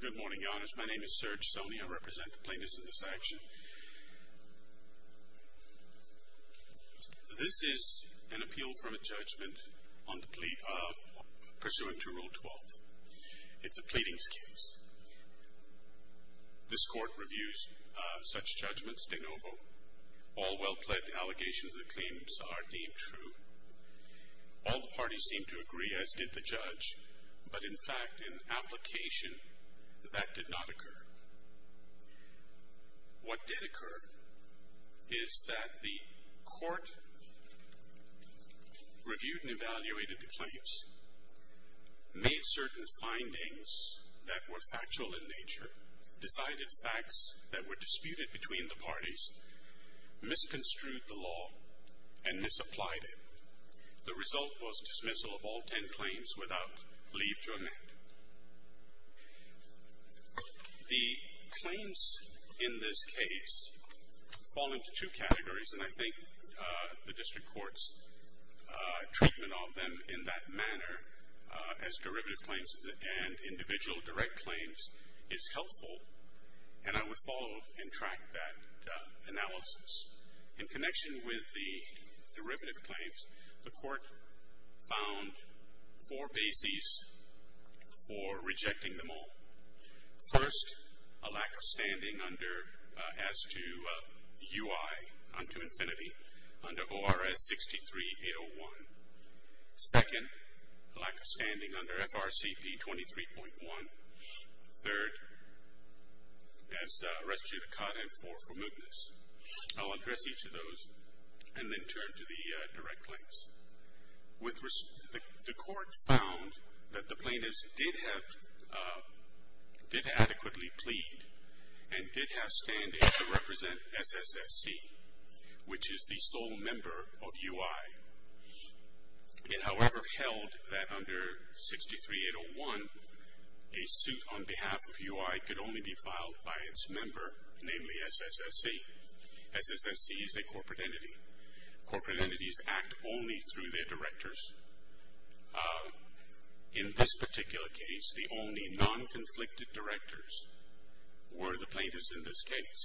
Good morning, Your Honours. My name is Serge Soni. I represent the plaintiffs in this action. This is an appeal from a judgment pursuant to Rule 12. It's a pleadings case. This court reviews such judgments de novo. All well-pledged allegations of the claims are deemed true. All the parties seem to agree, as did the judge, but in fact, in application, that did not occur. What did occur is that the court reviewed and evaluated the claims, made certain findings that were factual in nature, decided facts that were disputed between the parties, misconstrued the law, and misapplied it. The result was dismissal of all ten claims without leave to amend. The claims in this case fall into two categories, and I think the District Court's treatment of them in that manner, as derivative claims and individual direct claims, is helpful, and I would follow and track that analysis. In connection with the derivative claims, the court found four bases for rejecting them all. First, a lack of standing as to UI unto infinity under ORS 63-801. Second, a lack of standing under FRCP 23.1. Third, as restituted Codd M-4 for mootness. I'll address each of those and then turn to the direct claims. The court found that the plaintiffs did adequately plead and did have standing to represent SSSC, which is the sole member of UI. It, however, held that under 63-801, a suit on behalf of UI could only be filed by its member, namely SSSC. SSSC is a corporate entity. Corporate entities act only through their directors. In this particular case, the only non-conflicted directors were the plaintiffs in this case.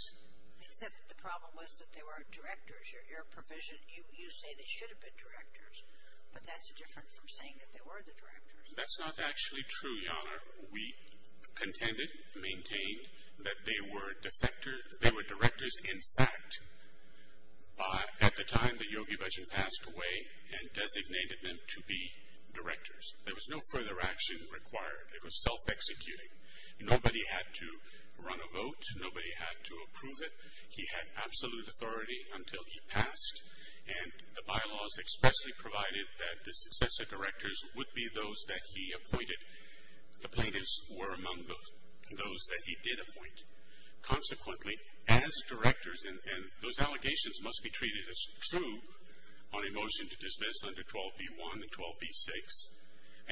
Except the problem was that they were directors. Your provision, you say they should have been directors, but that's different from saying that they were the directors. That's not actually true, Your Honor. We contended, maintained, that they were directors in fact at the time that Yogi Bhajan passed away and designated them to be directors. There was no further action required. It was self-executing. Nobody had to run a vote. Nobody had to approve it. He had absolute authority until he passed. And the bylaws expressly provided that the successor directors would be those that he appointed. The plaintiffs were among those that he did appoint. Consequently, as directors, and those allegations must be treated as true on a motion to dismiss under 12b-1 and 12b-6.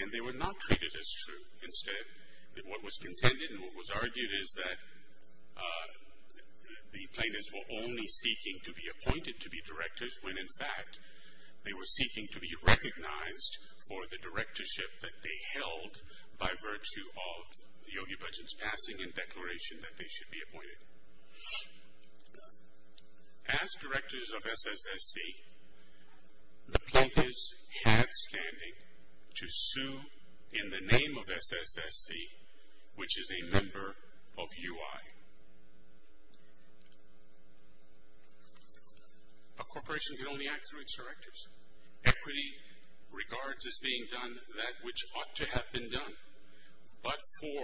And they were not treated as true. Instead, what was contended and what was argued is that the plaintiffs were only seeking to be appointed to be directors when in fact they were seeking to be recognized for the directorship that they held by virtue of Yogi Bhajan's passing and declaration that they should be appointed. As directors of SSSC, the plaintiffs had standing to sue in the name of SSSC, which is a member of UI. A corporation can only act through its directors. Equity regards as being done that which ought to have been done. But for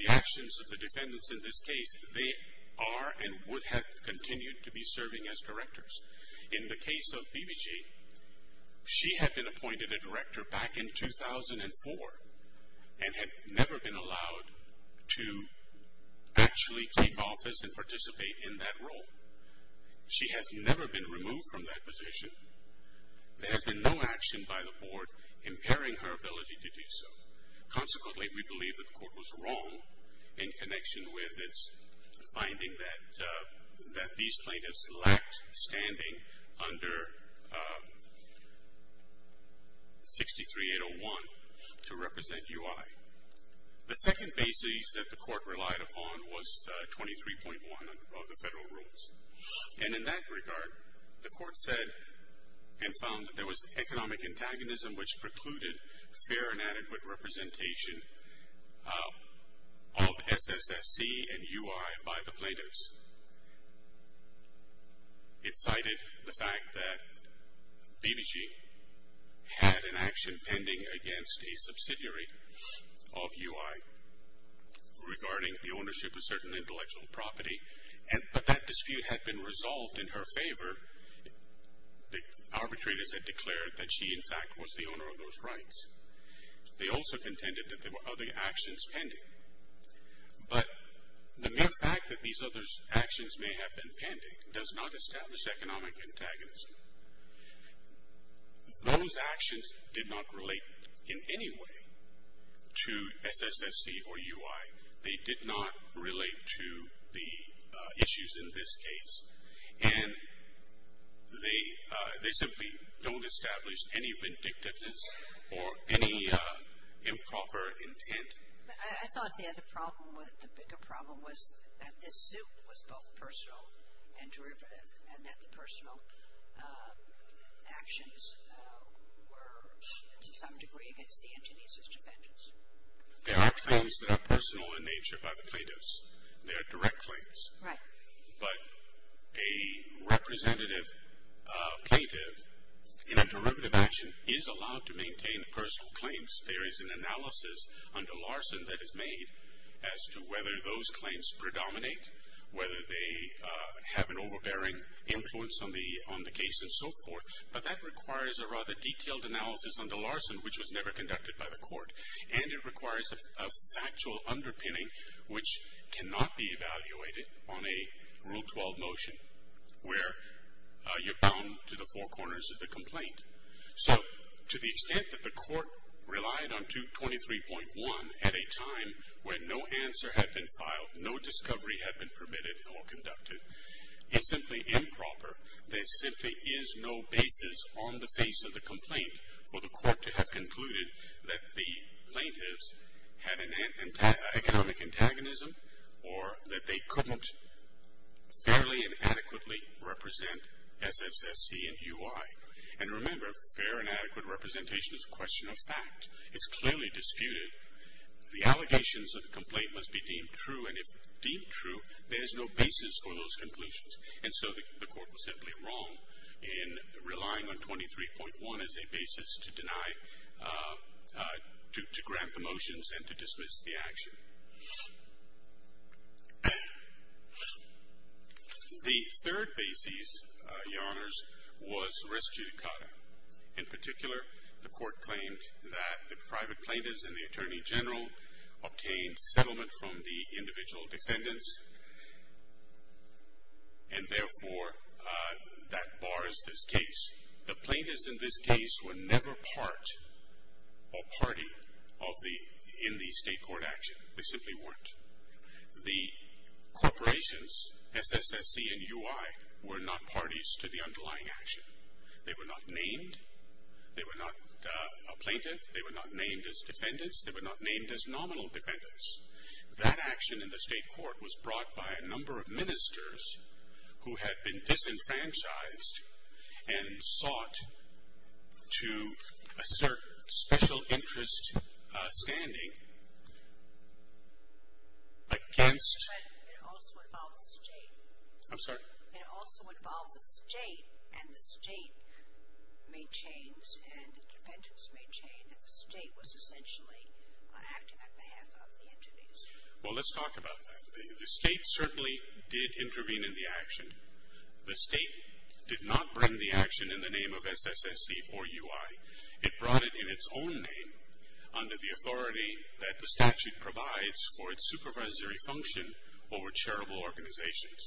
the actions of the defendants in this case, they are and would have continued to be serving as directors. In the case of BBG, she had been appointed a director back in 2004 and had never been allowed to actually take office and participate in that role. She has never been removed from that position. There has been no action by the board impairing her ability to do so. Consequently, we believe that the court was wrong in connection with its finding that these plaintiffs lacked standing under 63-801 to represent UI. The second basis that the court relied upon was 23.1 of the federal rules. And in that regard, the court said and found that there was economic antagonism which precluded fair and adequate representation of SSSC and UI by the plaintiffs. It cited the fact that BBG had an action pending against a subsidiary of UI regarding the ownership of certain intellectual property. But that dispute had been resolved in her favor. The arbitrators had declared that she, in fact, was the owner of those rights. They also contended that there were other actions pending. But the mere fact that these other actions may have been pending does not establish economic antagonism. Those actions did not relate in any way to SSSC or UI. They did not relate to the issues in this case. And they simply don't establish any vindictiveness or any improper intent. But I thought the other problem, the bigger problem, was that this suit was both personal and derivative and that the personal actions were, to some degree, against the entities as defendants. There are claims that are personal in nature by the plaintiffs. They are direct claims. Right. But a representative plaintiff in a derivative action is allowed to maintain personal claims. There is an analysis under Larson that is made as to whether those claims predominate, whether they have an overbearing influence on the case and so forth. But that requires a rather detailed analysis under Larson, which was never conducted by the court. And it requires a factual underpinning, which cannot be evaluated on a Rule 12 motion, where you're bound to the four corners of the complaint. So to the extent that the court relied on 23.1 at a time when no answer had been filed, no discovery had been permitted or conducted, it's simply improper. There simply is no basis on the face of the complaint for the court to have concluded that the plaintiffs had an economic antagonism or that they couldn't fairly and adequately represent SSSC and UI. And remember, fair and adequate representation is a question of fact. It's clearly disputed. The allegations of the complaint must be deemed true. And if deemed true, there is no basis for those conclusions. And so the court was simply wrong in relying on 23.1 as a basis to deny, to grant the motions and to dismiss the action. The third basis, Your Honors, was res judicata. In particular, the court claimed that the private plaintiffs and the Attorney General obtained settlement from the individual defendants. And therefore, that bars this case. The plaintiffs in this case were never part or party in the state court action. They simply weren't. The corporations, SSSC and UI, were not parties to the underlying action. They were not named. They were not a plaintiff. They were not named as defendants. They were not named as nominal defendants. That action in the state court was brought by a number of ministers who had been disenfranchised and sought to assert special interest standing against. But it also involved the state. I'm sorry? It also involved the state. And the state made change and the defendants made change. And the state was essentially acting on behalf of the entities. Well, let's talk about that. The state certainly did intervene in the action. The state did not bring the action in the name of SSSC or UI. It brought it in its own name under the authority that the statute provides for its supervisory function over charitable organizations.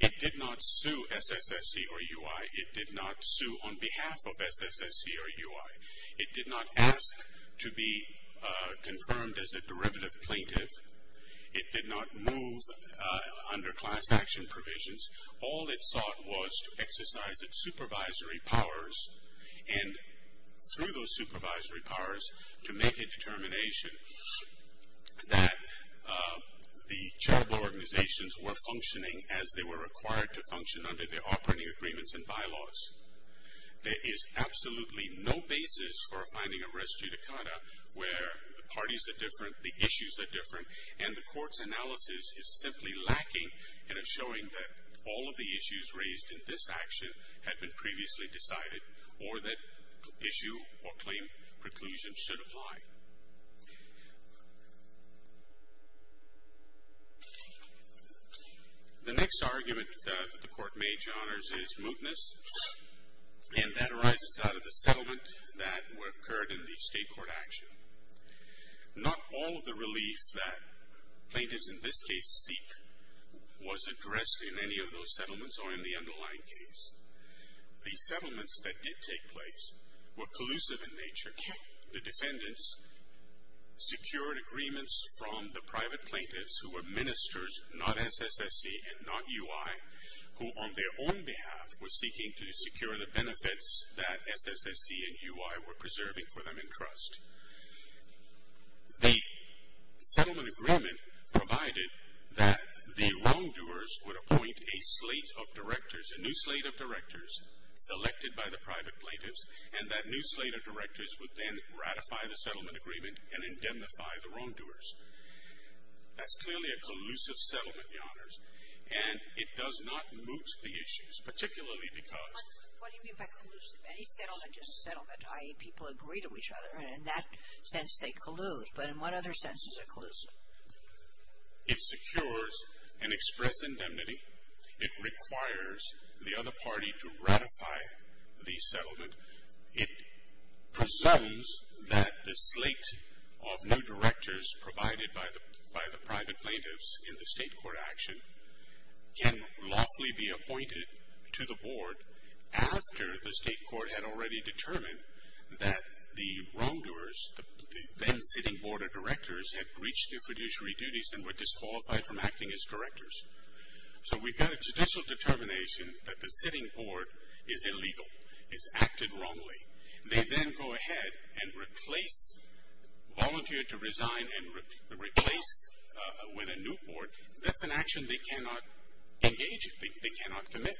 It did not sue SSSC or UI. It did not sue on behalf of SSSC or UI. It did not ask to be confirmed as a derivative plaintiff. It did not move under class action provisions. All it sought was to exercise its supervisory powers, and through those supervisory powers to make a determination that the charitable organizations were functioning as they were required to function under their operating agreements and bylaws. There is absolutely no basis for a finding of res judicata where the parties are different, the issues are different, and the court's analysis is simply lacking in a showing that all of the issues raised in this action had been previously decided or that issue or claim preclusion should apply. The next argument that the court made, Your Honors, is mootness, and that arises out of the settlement that occurred in the state court action. Not all of the relief that plaintiffs in this case seek was addressed in any of those settlements or in the underlying case. The settlements that did take place were collusive in nature. The defendants secured agreements from the private plaintiffs who were ministers, not SSSC and not UI, who on their own behalf were seeking to secure the benefits that SSSC and UI were preserving for them in trust. The settlement agreement provided that the wrongdoers would appoint a slate of directors, a new slate of directors selected by the private plaintiffs, and that new slate of directors would then ratify the settlement agreement and indemnify the wrongdoers. That's clearly a collusive settlement, Your Honors, and it does not moot the issues, particularly because. What do you mean by collusive? Any settlement is a settlement, i.e., people agree to each other. In that sense, they collude. But in what other sense is it collusive? It secures an express indemnity. It requires the other party to ratify the settlement. It presumes that the slate of new directors provided by the private plaintiffs in the state court action can lawfully be appointed to the board after the state court had already determined that the wrongdoers, the then sitting board of directors, had breached their fiduciary duties and were disqualified from acting as directors. So we've got a judicial determination that the sitting board is illegal, is acted wrongly. They then go ahead and replace, volunteer to resign and replace with a new board. That's an action they cannot engage in. They cannot commit.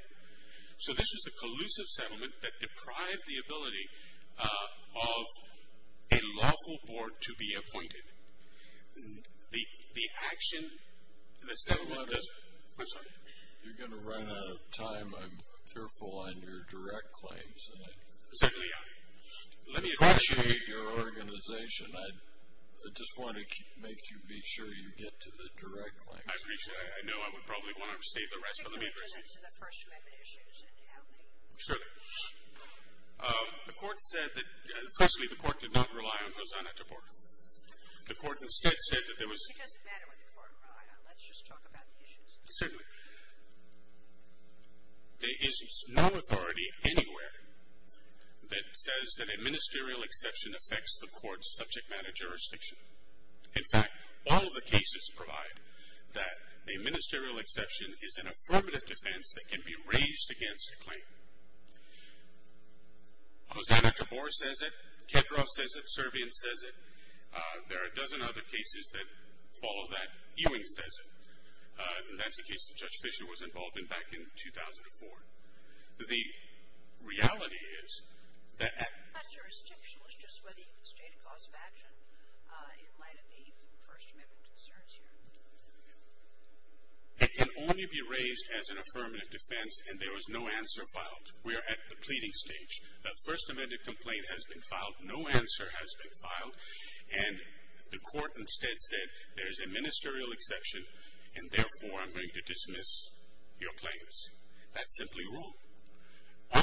So this is a collusive settlement that deprived the ability of a lawful board to be appointed. The action, the settlement is. I'm sorry. You're going to run out of time. I'm careful on your direct claims. Certainly I am. Let me address you. I appreciate your organization. I just want to make sure you get to the direct claims. I appreciate it. I know I would probably want to save the rest, but let me address it. Could you go into the first amendment issues and how they. Sure. The court said that, firstly, the court did not rely on Rosanna to board. The court instead said that there was. It doesn't matter what the court relied on. Let's just talk about the issues. Certainly. There is no authority anywhere that says that a ministerial exception affects the court's subject matter jurisdiction. In fact, all of the cases provide that a ministerial exception is an affirmative defense that can be raised against a claim. Rosanna to board says it. Kedroff says it. Servian says it. There are a dozen other cases that follow that. Ewing says it. That's the case that Judge Fischer was involved in back in 2004. The reality is that. That jurisdiction was just for the stated cause of action in light of the first amendment concerns here. It can only be raised as an affirmative defense, and there was no answer filed. We are at the pleading stage. That first amendment complaint has been filed. No answer has been filed. And the court instead said there is a ministerial exception, and therefore I'm going to dismiss your claims. That's simply wrong.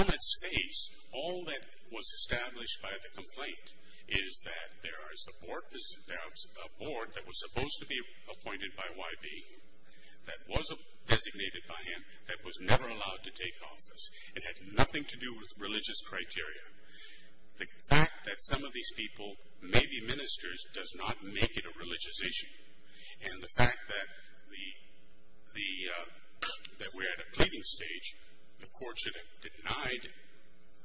On its face, all that was established by the complaint is that there is a board that was supposed to be appointed by YB that was designated by him that was never allowed to take office. It had nothing to do with religious criteria. The fact that some of these people may be ministers does not make it a religious issue. And the fact that we're at a pleading stage, the court should have denied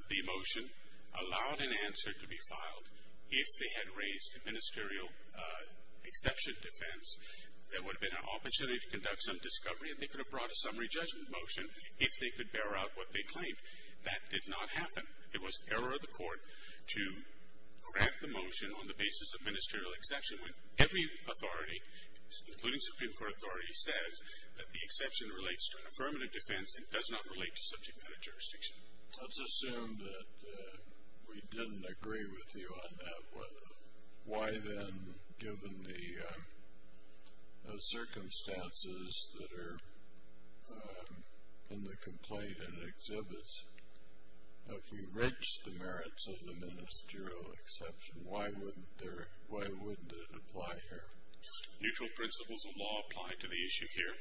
the motion, allowed an answer to be filed if they had raised a ministerial exception defense. There would have been an opportunity to conduct some discovery, and they could have brought a summary judgment motion if they could bear out what they claimed. That did not happen. It was error of the court to grant the motion on the basis of ministerial exception when every authority, including Supreme Court authority, says that the exception relates to an affirmative defense and does not relate to subject matter jurisdiction. Let's assume that we didn't agree with you on that one. Why then, given the circumstances that are in the complaint and exhibits, if we reach the merits of the ministerial exception, why wouldn't it apply here? Neutral principles of law apply to the issue here.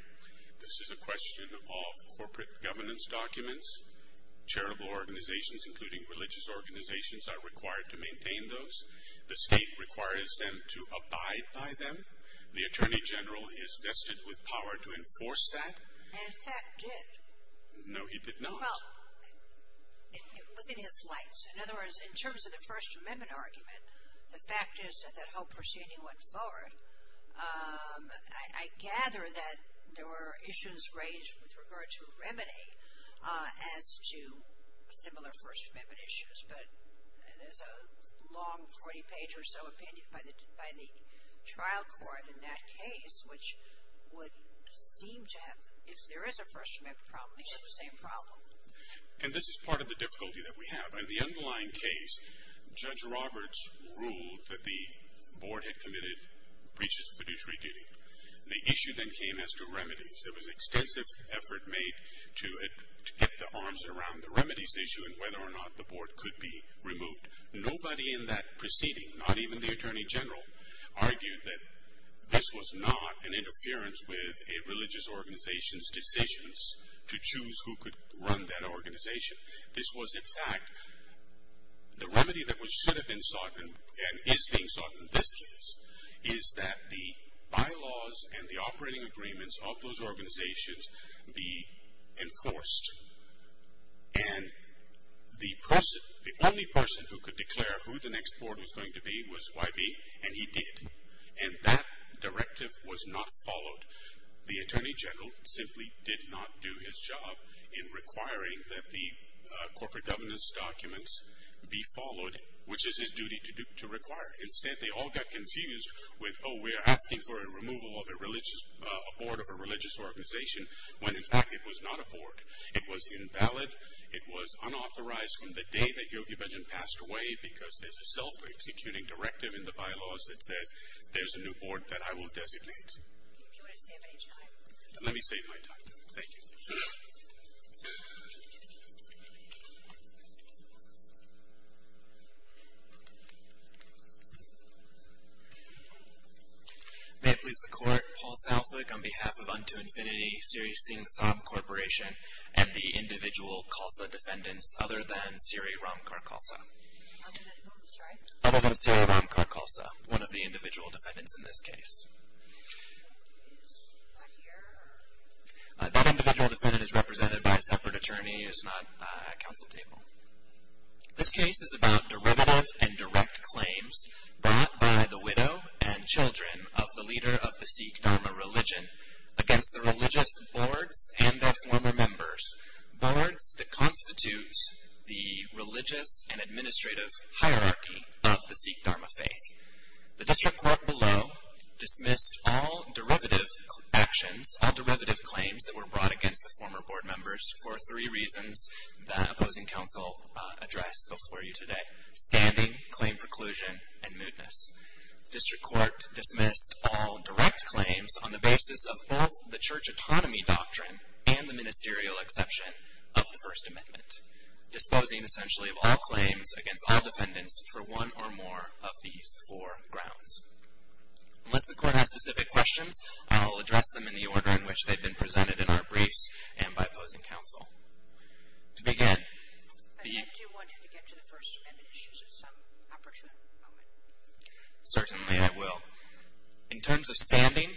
This is a question of corporate governance documents. Charitable organizations, including religious organizations, are required to maintain those. The state requires them to abide by them. The attorney general is vested with power to enforce that. And fact did. No, he did not. Well, within his rights. In other words, in terms of the First Amendment argument, the fact is that that whole proceeding went forward. I gather that there were issues raised with regard to remedy as to similar First Amendment issues, but there's a long 40-page or so opinion by the trial court in that case, which would seem to have, if there is a First Amendment problem, they have the same problem. And this is part of the difficulty that we have. In the underlying case, Judge Roberts ruled that the board had committed breaches of fiduciary duty. The issue then came as to remedies. There was extensive effort made to get the arms around the remedies issue and whether or not the board could be removed. Nobody in that proceeding, not even the attorney general, argued that this was not an interference with a religious organization's decisions to choose who could run that organization. This was, in fact, the remedy that should have been sought and is being sought in this case, is that the bylaws and the operating agreements of those organizations be enforced. And the only person who could declare who the next board was going to be was YB, and he did. And that directive was not followed. The attorney general simply did not do his job in requiring that the corporate governance documents be followed, which is his duty to require. Instead, they all got confused with, oh, we're asking for a removal of a board of a religious organization, when, in fact, it was not a board. It was invalid. It was unauthorized from the day that Yogi Bhajan passed away, because there's a self-executing directive in the bylaws that says there's a new board that I will designate. Do you want to save any time? Let me save my time. Thank you. May it please the Court, Paul Southwick on behalf of Unto Infinity, Siri Singh Saab Corporation, and the individual CALSA defendants other than Siri Ramkar-CALSA. Other than whom, sorry? Other than Siri Ramkar-CALSA, one of the individual defendants in this case. He's not here. That individual defendant is represented by a separate attorney who's not at council table. This case is about derivative and direct claims brought by the widow and children of the leader of the Sikh Dharma religion against the religious boards and their former members, boards that constitute the religious and administrative hierarchy of the Sikh Dharma faith. The district court below dismissed all derivative actions, all derivative claims that were brought against the former board members for three reasons that opposing counsel addressed before you today, standing, claim preclusion, and mootness. District court dismissed all direct claims on the basis of both the church autonomy doctrine and the ministerial exception of the First Amendment, disposing essentially of all claims against all defendants for one or more of these four grounds. Unless the court has specific questions, I'll address them in the order in which they've been presented in our briefs and by opposing counsel. To begin, the- I do want you to get to the First Amendment issues at some opportune moment. Certainly I will. In terms of standing,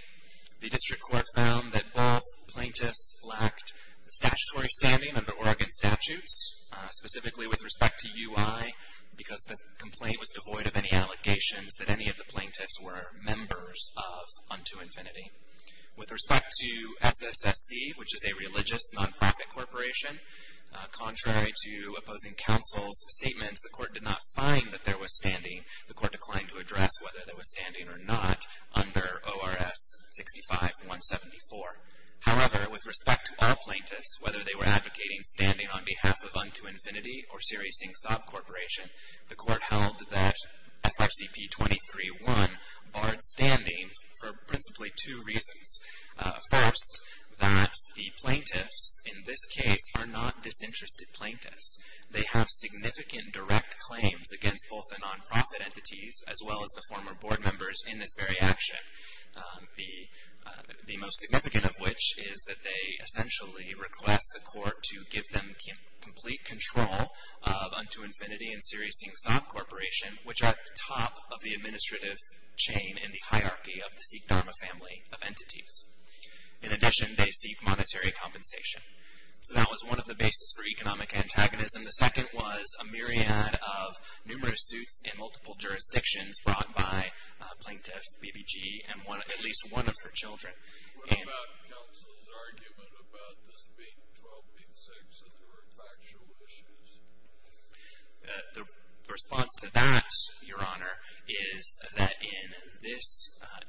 the district court found that both plaintiffs lacked statutory standing under Oregon statutes, specifically with respect to UI, because the complaint was devoid of any allegations that any of the plaintiffs were members of Unto Infinity. With respect to SSSC, which is a religious nonprofit corporation, contrary to opposing counsel's statements, the court did not find that there was standing. The court declined to address whether there was standing or not under ORS 65-174. However, with respect to all plaintiffs, whether they were advocating standing on behalf of Unto Infinity or Siri Singh Saab Corporation, the court held that FRCP 23-1 barred standing for principally two reasons. First, that the plaintiffs in this case are not disinterested plaintiffs. They have significant direct claims against both the nonprofit entities as well as the former board members in this very action. The most significant of which is that they essentially request the court to give them complete control of Unto Infinity and Siri Singh Saab Corporation, which are at the top of the administrative chain in the hierarchy of the Sikh Dharma family of entities. In addition, they seek monetary compensation. So that was one of the bases for economic antagonism. The second was a myriad of numerous suits in multiple jurisdictions brought by Plaintiff BBG and at least one of her children. What about counsel's argument about this being 1286 and there were factual issues? The response to that, Your Honor, is that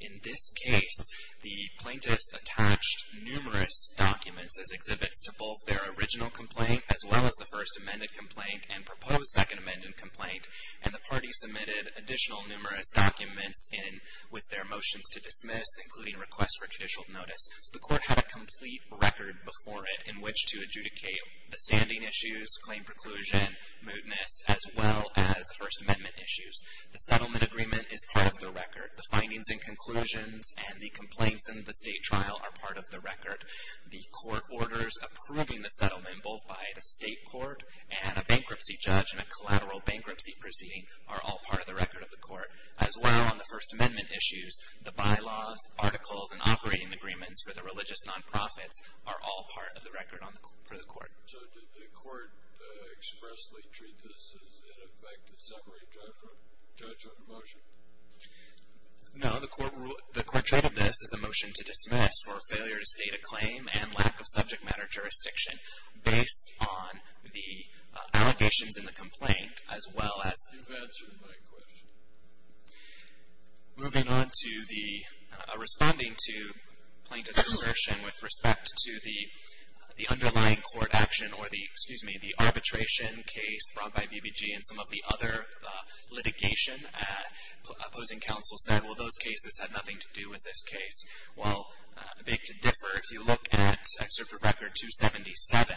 in this case, the plaintiffs attached numerous documents as exhibits to both their original complaint as well as the first amended complaint and proposed second amended complaint, and the party submitted additional numerous documents with their motions to dismiss, including requests for judicial notice. So the court had a complete record before it in which to adjudicate the standing issues, claim preclusion, mootness, as well as the first amendment issues. The settlement agreement is part of the record. The findings and conclusions and the complaints in the state trial are part of the record. The court orders approving the settlement both by the state court and a bankruptcy judge and a collateral bankruptcy proceeding are all part of the record of the court. As well on the first amendment issues, the bylaws, articles, and operating agreements for the religious non-profits are all part of the record for the court. So did the court expressly treat this as, in effect, a summary judgment motion? No. The court treated this as a motion to dismiss for failure to state a claim and lack of subject matter jurisdiction based on the allegations in the complaint as well as... You've answered my question. Moving on to the responding to plaintiff's assertion with respect to the underlying court action or the, excuse me, the arbitration case brought by BBG and some of the other litigation opposing counsel said, well, those cases have nothing to do with this case. Well, I beg to differ. If you look at Excerpt of Record 277,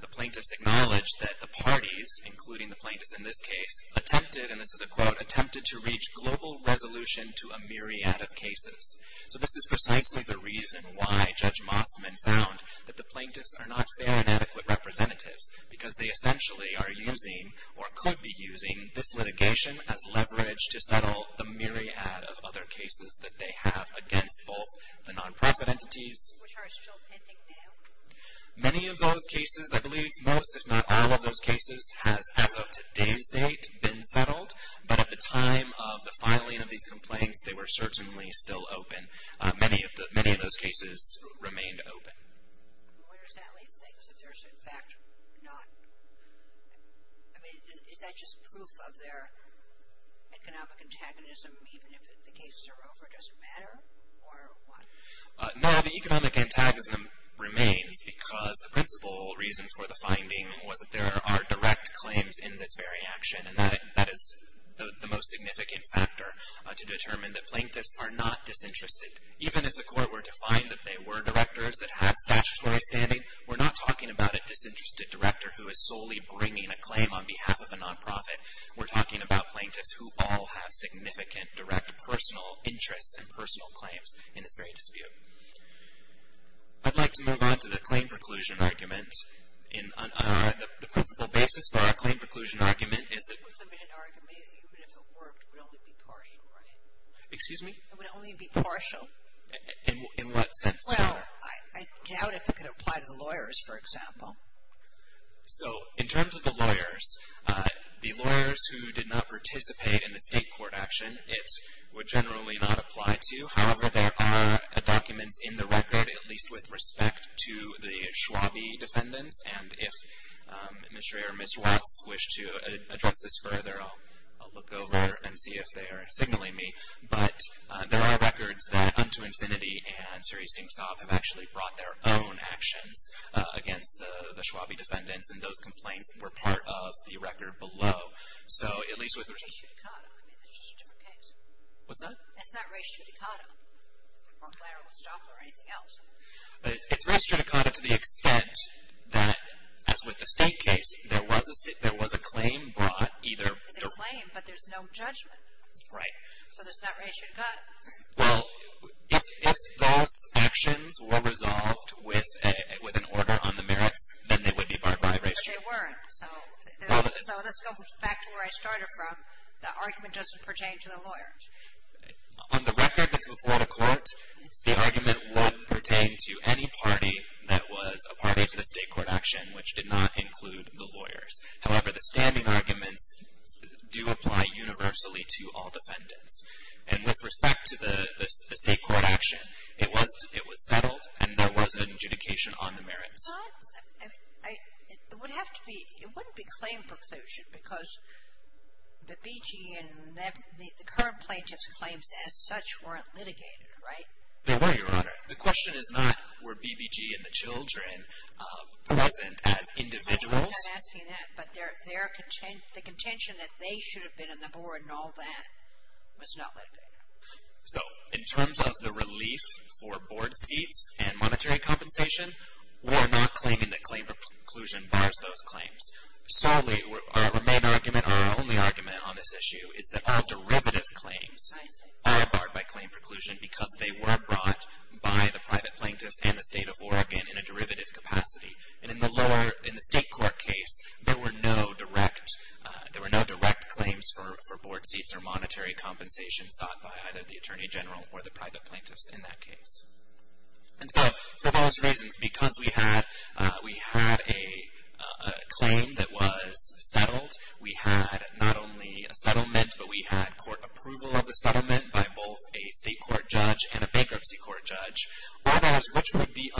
the plaintiffs acknowledged that the parties, including the plaintiffs in this case, attempted, and this is a quote, attempted to reach global resolution to a myriad of cases. So this is precisely the reason why Judge Mossman found that the plaintiffs are not fair and adequate representatives because they essentially are using or could be using this litigation as leverage to settle the myriad of other cases that they have against both the nonprofit entities... Which are still pending now. Many of those cases, I believe, most if not all of those cases, has, as of today's date, been settled. But at the time of the filing of these complaints, they were certainly still open. Many of those cases remained open. Where does that leave things if there's, in fact, not... I mean, is that just proof of their economic antagonism, even if the cases are over, does it matter? Or what? No, the economic antagonism remains because the principal reason for the finding was that there are direct claims in this very action. And that is the most significant factor to determine that plaintiffs are not disinterested. Even if the court were to find that they were directors that have statutory standing, we're not talking about a disinterested director who is solely bringing a claim on behalf of a nonprofit. We're talking about plaintiffs who all have significant direct personal interests and personal claims in this very dispute. I'd like to move on to the claim preclusion argument. The principal basis for our claim preclusion argument is that... In what sense? Well, I doubt if it could apply to the lawyers, for example. So, in terms of the lawyers, the lawyers who did not participate in the state court action, it would generally not apply to. However, there are documents in the record, at least with respect to the Schwabe defendants. And if Mr. or Ms. Watts wish to address this further, I'll look over and see if they are signaling me. But there are records that UntoInfinity and Siri Simtsov have actually brought their own actions against the Schwabe defendants. And those complaints were part of the record below. So, at least with respect... That's not race judicata. I mean, that's just a different case. What's that? That's not race judicata. Or Clara Westop or anything else. It's race judicata to the extent that, as with the state case, there was a claim brought either... It's a claim, but there's no judgment. Right. So, there's not race judicata. Well, if those actions were resolved with an order on the merits, then they would be barred by race judicata. But they weren't. So, let's go back to where I started from. The argument doesn't pertain to the lawyers. On the record that's before the court, the argument would pertain to any party that was a party to the state court action, which did not include the lawyers. However, the standing arguments do apply universally to all defendants. And with respect to the state court action, it was settled and there was an adjudication on the merits. Well, it would have to be... It wouldn't be claim preclusion because the BG and the current plaintiff's claims as such weren't litigated, right? They were, Your Honor. The question is not were BBG and the children present as individuals. I'm not asking that, but the contention that they should have been on the board and all that was not litigated. So, in terms of the relief for board seats and monetary compensation, we're not claiming that claim preclusion bars those claims. Solely, our main argument, our only argument on this issue is that all derivative claims are barred by claim preclusion because they were brought by the private plaintiffs and the state of Oregon in a derivative capacity. And in the lower, in the state court case, there were no direct claims for board seats or monetary compensation sought by either the attorney general or the private plaintiffs in that case. And so, for those reasons, because we had a claim that was settled, we had not only a settlement, but we had court approval of the settlement by both a state court judge and a bankruptcy court judge. That is, which would be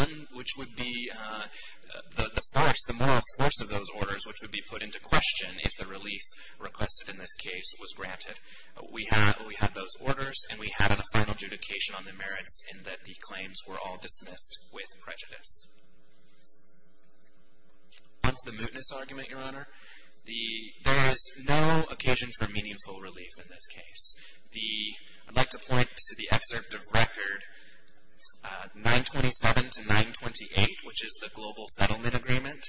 the force, the moral force of those orders, which would be put into question if the relief requested in this case was granted. We had those orders, and we had a final adjudication on the merits in that the claims were all dismissed with prejudice. On to the mootness argument, Your Honor. There is no occasion for meaningful relief in this case. I'd like to point to the excerpt of record 927 to 928, which is the Global Settlement Agreement.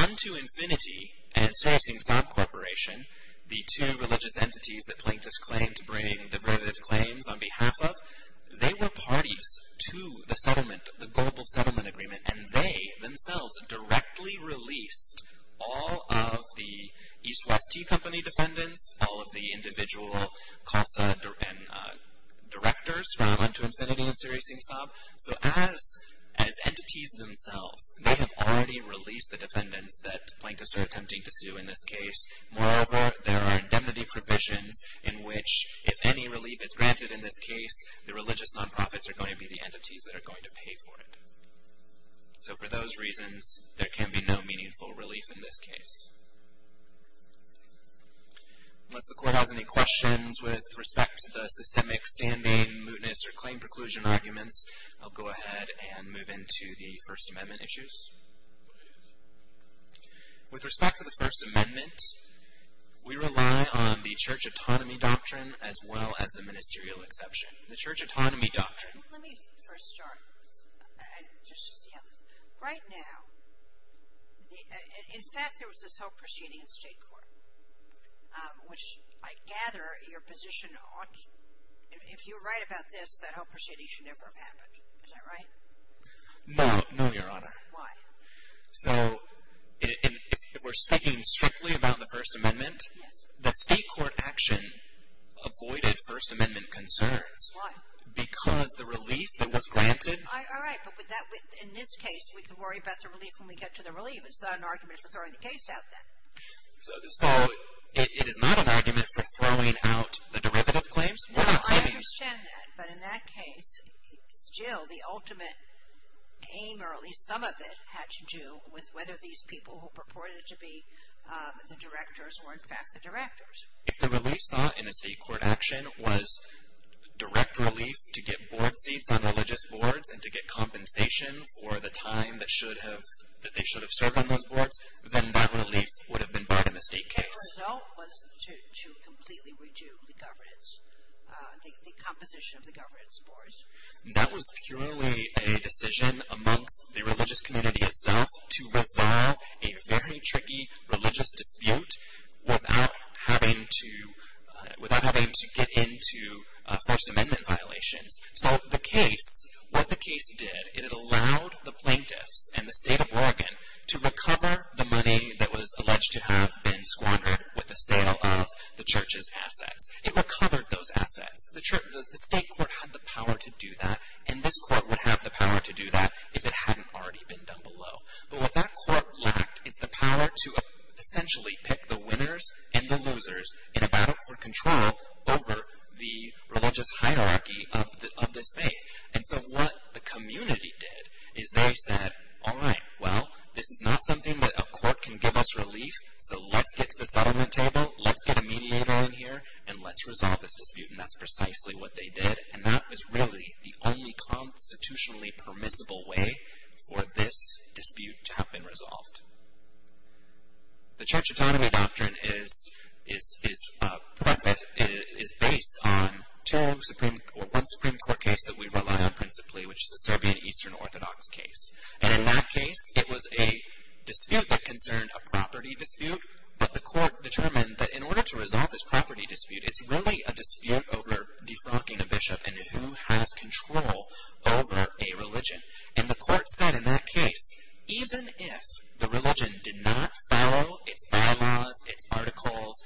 Unto Infinity and Serafsim Saab Corporation, the two religious entities that plaintiffs claimed to bring derivative claims on behalf of, they were parties to the settlement, the Global Settlement Agreement, and they themselves directly released all of the EastWest Tea Company defendants, all of the individual CASA directors from Unto Infinity and Serafsim Saab. So as entities themselves, they have already released the defendants that plaintiffs are attempting to sue in this case. Moreover, there are indemnity provisions in which, if any relief is granted in this case, the religious nonprofits are going to be the entities that are going to pay for it. So for those reasons, there can be no meaningful relief in this case. Unless the Court has any questions with respect to the systemic standing, mootness, or claim preclusion arguments, I'll go ahead and move into the First Amendment issues. With respect to the First Amendment, we rely on the Church Autonomy Doctrine as well as the Ministerial Exception. The Church Autonomy Doctrine... Let me first start, just to see how this... Right now, in fact, there was this whole proceeding in state court, which I gather your position on... If you're right about this, that whole proceeding should never have happened. Is that right? No. No, Your Honor. Why? So if we're speaking strictly about the First Amendment, the state court action avoided First Amendment concerns. Why? Because the relief that was granted... All right, but in this case, we can worry about the relief when we get to the relief. It's not an argument for throwing the case out then. So it is not an argument for throwing out the derivative claims? No, I understand that, but in that case, still, the ultimate aim, or at least some of it, had to do with whether these people who purported to be the directors were, in fact, the directors. If the relief sought in a state court action was direct relief to get board seats on religious boards and to get compensation for the time that they should have served on those boards, then that relief would have been barred in the state case. The result was to completely redo the governance, the composition of the governance boards. That was purely a decision amongst the religious community itself to resolve a very tricky religious dispute without having to get into First Amendment violations. So the case, what the case did, it allowed the plaintiffs and the state of Oregon to recover the money that was alleged to have been squandered with the sale of the church's assets. It recovered those assets. The state court had the power to do that, and this court would have the power to do that if it hadn't already been done below. But what that court lacked is the power to essentially pick the winners and the losers in a battle for control over the religious hierarchy of this faith. And so what the community did is they said, all right, well, this is not something that a court can give us relief, so let's get to the settlement table, let's get a mediator in here, and let's resolve this dispute. And that's precisely what they did. And that was really the only constitutionally permissible way for this dispute to have been resolved. The Church Autonomy Doctrine is based on one Supreme Court case that we rely on principally, which is the Serbian Eastern Orthodox case. And in that case, it was a dispute that concerned a property dispute, but the court determined that in order to resolve this property dispute, it's really a dispute over defrocking a bishop and who has control over a religion. And the court said in that case, even if the religion did not follow its bylaws, its articles,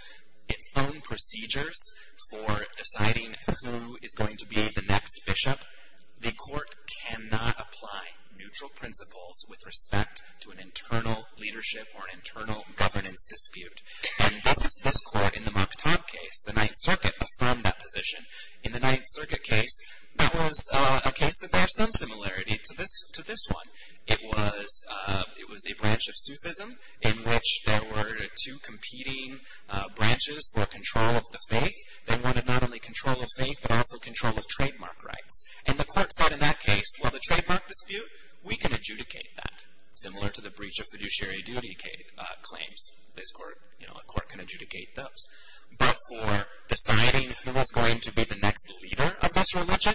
its own procedures for deciding who is going to be the next bishop, the court cannot apply neutral principles with respect to an internal leadership or an internal governance dispute. And this court in the Mokhtar case, the Ninth Circuit, affirmed that position. In the Ninth Circuit case, that was a case that had some similarity to this one. It was a branch of Sufism in which there were two competing branches for control of the faith. They wanted not only control of faith, but also control of trademark rights. And the court said in that case, well, the trademark dispute, we can adjudicate that, similar to the breach of fiduciary duty claims. This court, you know, a court can adjudicate those. But for deciding who is going to be the next leader of this religion,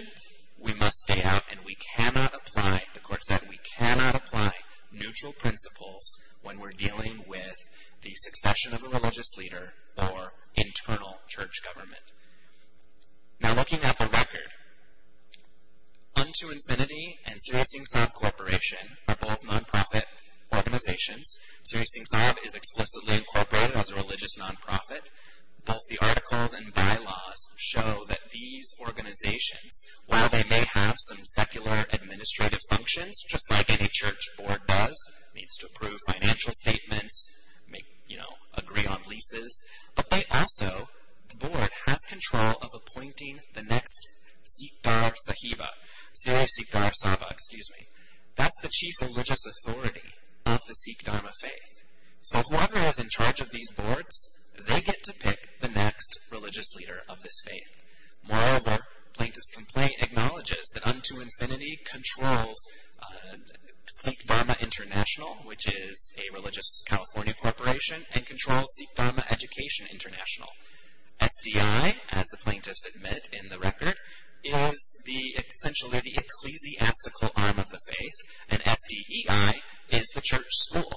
we must stay out and we cannot apply, the court said, we cannot apply neutral principles when we're dealing with the succession of a religious leader or internal church government. Now looking at the record, UntoInfinity and Sirisingsav Corporation are both non-profit organizations. Sirisingsav is explicitly incorporated as a religious non-profit. Both the articles and bylaws show that these organizations, while they may have some secular administrative functions, just like any church board does, needs to approve financial statements, may, you know, agree on leases, but they also, the board, has control of appointing the next Sikhtar Sahiba. Sirisikhtar Saba, excuse me. That's the chief religious authority of the Sikhtarma faith. So whoever is in charge of these boards, they get to pick the next religious leader of this faith. Moreover, plaintiff's complaint acknowledges that UntoInfinity controls Sikhtarma International, which is a religious California corporation, and controls Sikhtarma Education International. SDI, as the plaintiffs admit in the record, is essentially the ecclesiastical arm of the faith, and S-D-E-I is the church school.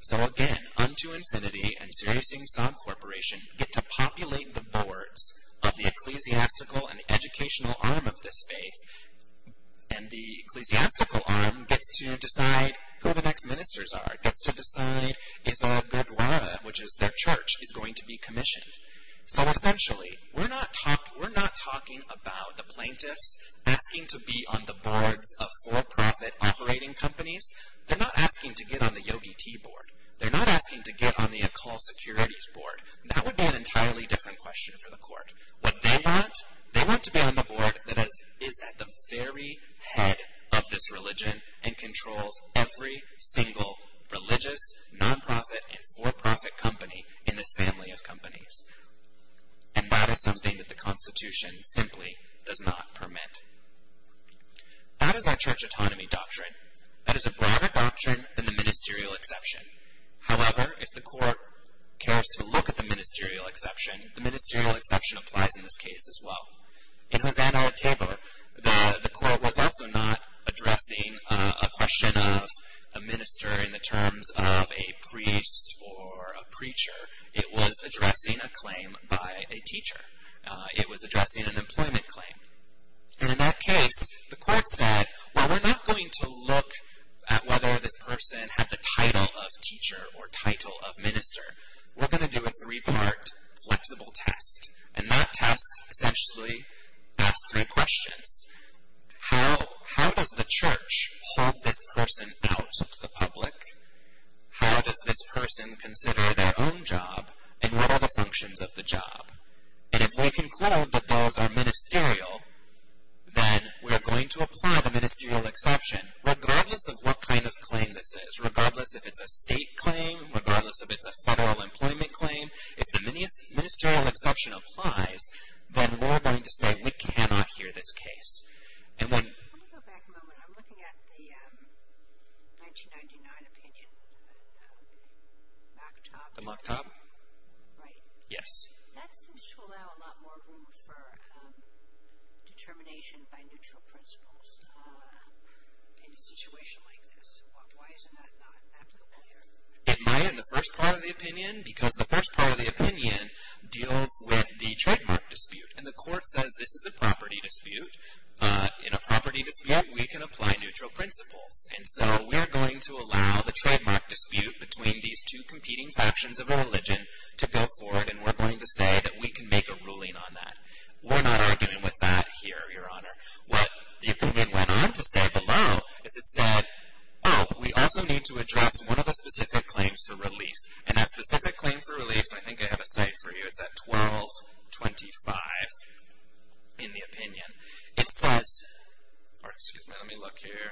So again, UntoInfinity and Sirisingsav Corporation get to populate the boards of the ecclesiastical and educational arm of this faith, and the ecclesiastical arm gets to decide who the next ministers are. It gets to decide if a gurdwara, which is their church, is going to be commissioned. So essentially, we're not talking about the plaintiffs asking to be on the boards of for-profit operating companies. They're not asking to get on the Yogi Tea Board. They're not asking to get on the Akal Securities Board. That would be an entirely different question for the court. What they want, they want to be on the board that is at the very head of this religion, and controls every single religious, non-profit, and for-profit company in this family of companies. And that is something that the Constitution simply does not permit. That is our church autonomy doctrine. That is a broader doctrine than the ministerial exception. However, if the court cares to look at the ministerial exception, the ministerial exception applies in this case as well. In Hosanna at Tabor, the court was also not addressing a question of a minister in the terms of a priest or a preacher. It was addressing a claim by a teacher. It was addressing an employment claim. And in that case, the court said, well, we're not going to look at whether this person had the title of teacher or title of minister. We're going to do a three-part flexible test. And that test essentially asks three questions. How does the church hold this person out to the public? How does this person consider their own job? And what are the functions of the job? And if we conclude that those are ministerial, then we're going to apply the ministerial exception, regardless of what kind of claim this is, regardless if it's a state claim, regardless if it's a federal employment claim. If the ministerial exception applies, then we're going to say we cannot hear this case. And when... Let me go back a moment. I'm looking at the 1999 opinion, the mock-top. The mock-top? Right. Yes. That seems to allow a lot more room for determination by neutral principles in a situation like this. Why is that not applicable here? Am I in the first part of the opinion? Because the first part of the opinion deals with the trademark dispute. And the court says this is a property dispute. In a property dispute, we can apply neutral principles. And so we're going to allow the trademark dispute between these two competing factions of a religion to go forward, and we're going to say that we can make a ruling on that. We're not arguing with that here, Your Honor. What the opinion went on to say below is it said, oh, we also need to address one of the specific claims for relief. And that specific claim for relief, I think I have a cite for you. It's at 1225 in the opinion. It says... Excuse me. Let me look here.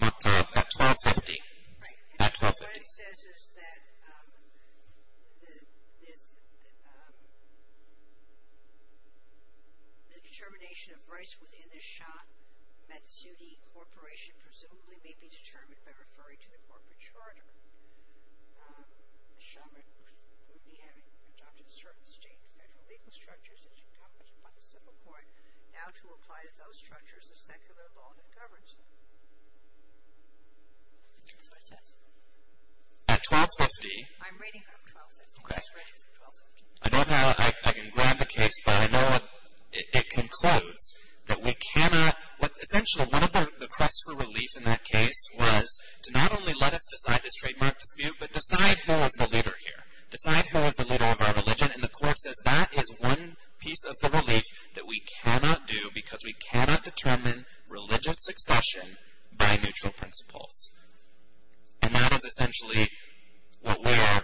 Mock-top at 1250. At 1250. What it says is that the determination of rights within the Shah-Matsudi Corporation presumably may be determined by referring to the corporate charter. A shaman would be having adopted certain state and federal legal structures that are encompassed by the civil court now to apply to those structures the secular law that governs them. That's what it says. At 1250... I'm reading from 1250. Okay. I don't have it. I can grab the case, but I know it concludes that we cannot... Essentially, one of the requests for relief in that case was to not only let us decide this trademark dispute, but decide who is the leader here. Decide who is the leader of our religion. And the court says that is one piece of the relief that we cannot do because we cannot determine religious succession by neutral principles. And that is essentially what we are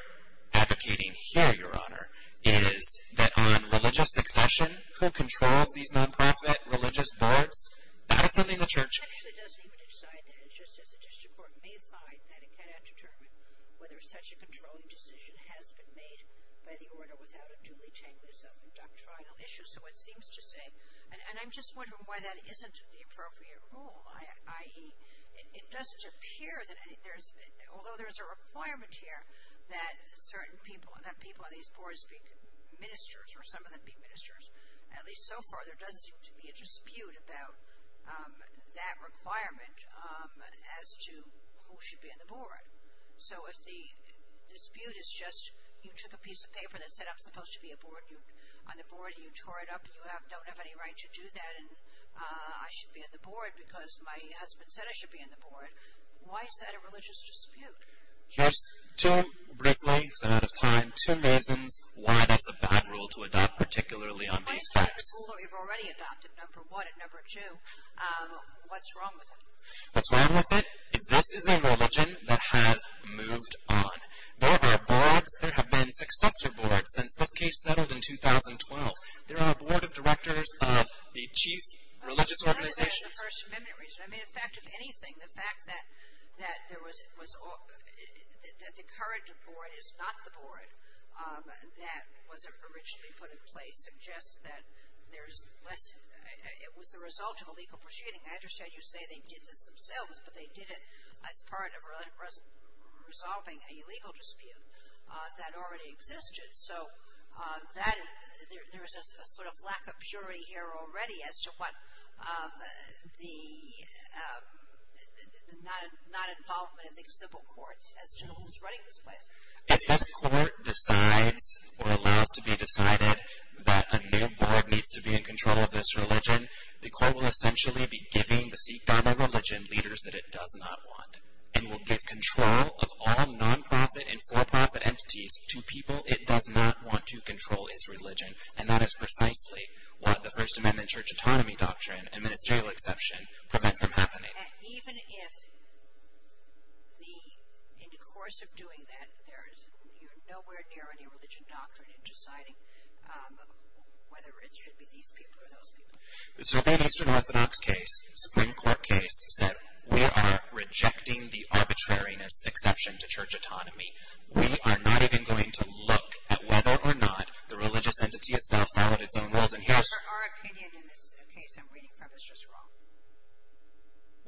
advocating here, Your Honor, is that on religious succession, who controls these non-profit religious boards? That is something the church... It actually doesn't even decide that. It's just that the district court may find that it cannot determine whether such a controlling decision has been made by the order without it duly tangling itself in doctrinal issues. So it seems to say... And I'm just wondering why that isn't the appropriate rule. It doesn't appear that... Although there is a requirement here that certain people, that people on these boards be ministers or some of them be ministers, at least so far there doesn't seem to be a dispute about that requirement as to who should be on the board. So if the dispute is just you took a piece of paper that said I'm supposed to be on the board and you tore it up and you don't have any right to do that and I should be on the board because my husband said I should be on the board, why is that a religious dispute? There's two, briefly, because I'm out of time, two reasons why that's a bad rule to adopt particularly on these facts. Why is that a rule that we've already adopted, number one? And number two, what's wrong with it? What's wrong with it is this is a religion that has moved on. There have been boards, there have been successor boards since this case settled in 2012. There are a board of directors of the chief religious organizations. I don't know if that's the First Amendment reason. I mean, in fact, if anything, the fact that there was, that the current board is not the board that was originally put in place suggests that there's less, it was the result of illegal proceeding. I understand you say they did this themselves, but they did it as part of resolving a legal dispute that already existed. So that, there's a sort of lack of purity here already as to what the, not involvement of the civil courts as to who's running this place. If this court decides or allows to be decided that a new board needs to be in control of this religion, the court will essentially be giving the Sikh Dharma religion leaders that it does not want. And will give control of all non-profit and for-profit entities to people it does not want to control its religion. And that is precisely what the First Amendment church autonomy doctrine and ministerial exception prevent from happening. Even if the, in the course of doing that, there is nowhere near any religion doctrine in deciding whether it should be these people or those people. The Serbian Eastern Orthodox case, Supreme Court case, said we are rejecting the arbitrariness exception to church autonomy. We are not even going to look at whether or not the religious entity itself followed its own rules. And here's... Our opinion in this case I'm reading from is just wrong.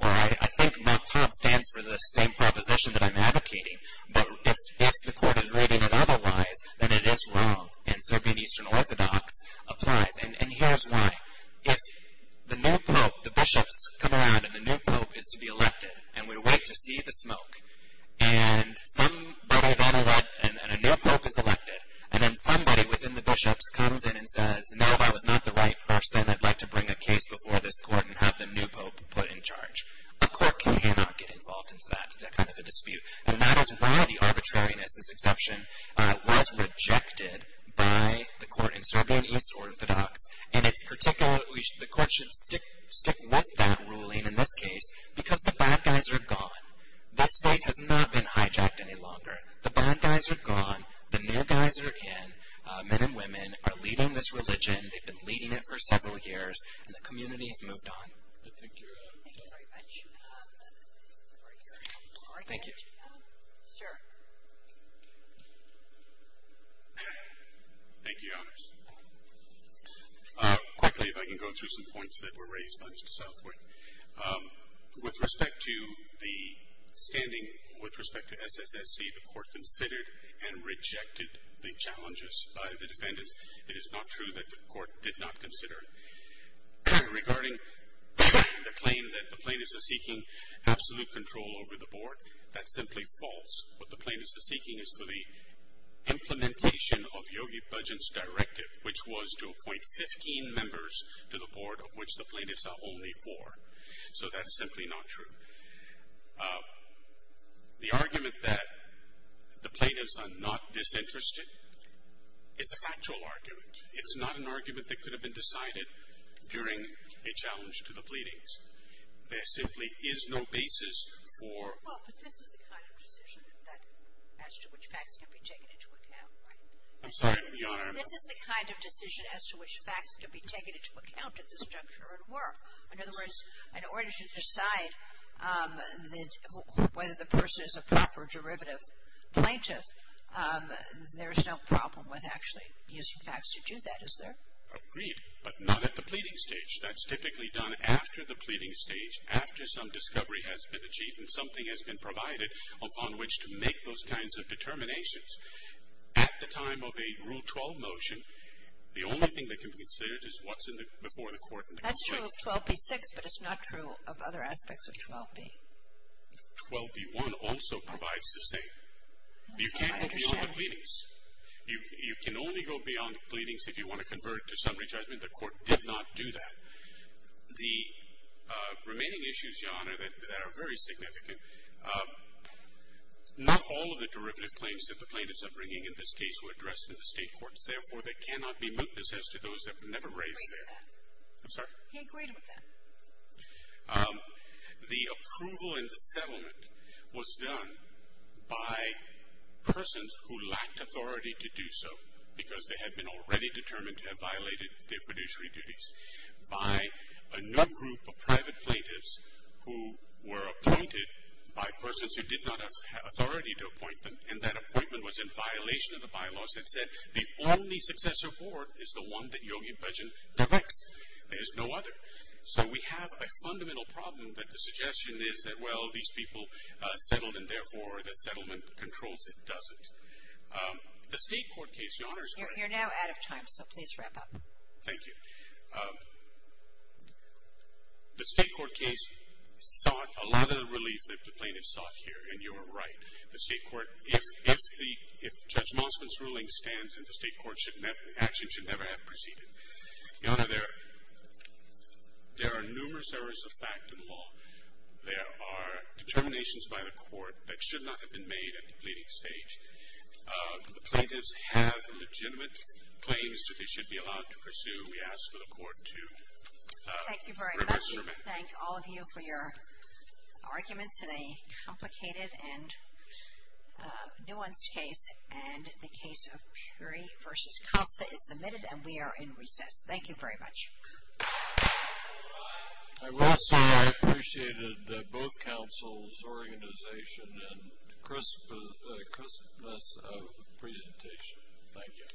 Well, I think Mt. Tom stands for the same proposition that I'm advocating. But if the court is reading it otherwise, then it is wrong. And Serbian Eastern Orthodox applies. And here's why. If the new pope, the bishops come around and the new pope is to be elected, and we wait to see the smoke. And somebody then elects, and a new pope is elected. And then somebody within the bishops comes in and says, now if I was not the right person, I'd like to bring a case before this court and have the new pope put in charge. A court cannot get involved into that, that kind of a dispute. And that is why the arbitrariness exception was rejected by the court in Serbian Eastern Orthodox. And the court should stick with that ruling in this case because the bad guys are gone. This fight has not been hijacked any longer. The bad guys are gone. The new guys are in. Men and women are leading this religion. They've been leading it for several years. And the community has moved on. I think you're done. Thank you very much. Thank you. Sir. Thank you, Your Honors. Quickly, if I can go through some points that were raised by Mr. Southwick. With respect to the standing, with respect to SSSC, the court considered and rejected the challenges by the defendants. It is not true that the court did not consider. Regarding the claim that the plaintiffs are seeking absolute control over the board, that's simply false. What the plaintiffs are seeking is for the implementation of Yogi Bhajan's directive, which was to appoint 15 members to the board, of which the plaintiffs are only four. So that's simply not true. The argument that the plaintiffs are not disinterested is a factual argument. It's not an argument that could have been decided during a challenge to the pleadings. There simply is no basis for. Well, but this is the kind of decision as to which facts can be taken into account, right? I'm sorry, Your Honor. This is the kind of decision as to which facts can be taken into account at this juncture in work. In other words, in order to decide whether the person is a proper derivative plaintiff, there is no problem with actually using facts to do that, is there? Agreed, but not at the pleading stage. That's typically done after the pleading stage, after some discovery has been achieved and something has been provided upon which to make those kinds of determinations. At the time of a Rule 12 motion, the only thing that can be considered is what's before the court. That's true of 12b-6, but it's not true of other aspects of 12b. 12b-1 also provides the same. You can't go beyond the pleadings. You can only go beyond the pleadings if you want to convert to summary judgment. The Court did not do that. The remaining issues, Your Honor, that are very significant, not all of the derivative claims that the plaintiffs are bringing in this case were addressed in the State courts. Therefore, they cannot be mootnesses to those that were never raised there. I'm sorry? He agreed with that. The approval and the settlement was done by persons who lacked authority to do so because they had been already determined to have violated their fiduciary duties, by a new group of private plaintiffs who were appointed by persons who did not have authority to appoint them, and that appointment was in violation of the bylaws that said the only successor board is the one that Yogi Bhajan directs. There's no other. So we have a fundamental problem that the suggestion is that, well, these people settled and therefore the settlement controls it doesn't. The State court case, Your Honor, is correct. You're now out of time, so please wrap up. Thank you. The State court case sought a lot of the relief that the plaintiffs sought here, and you are right. The State court, if Judge Mosman's ruling stands and the State court's action should never have proceeded, Your Honor, there are numerous errors of fact in law. There are determinations by the court that should not have been made at the pleading stage. The plaintiffs have legitimate claims that they should be allowed to pursue. Thank you very much. We thank all of you for your arguments in a complicated and nuanced case, and the case of Puri v. Kalsa is submitted, and we are in recess. Thank you very much. I will say I appreciated both counsel's organization and crispness of the presentation. Thank you.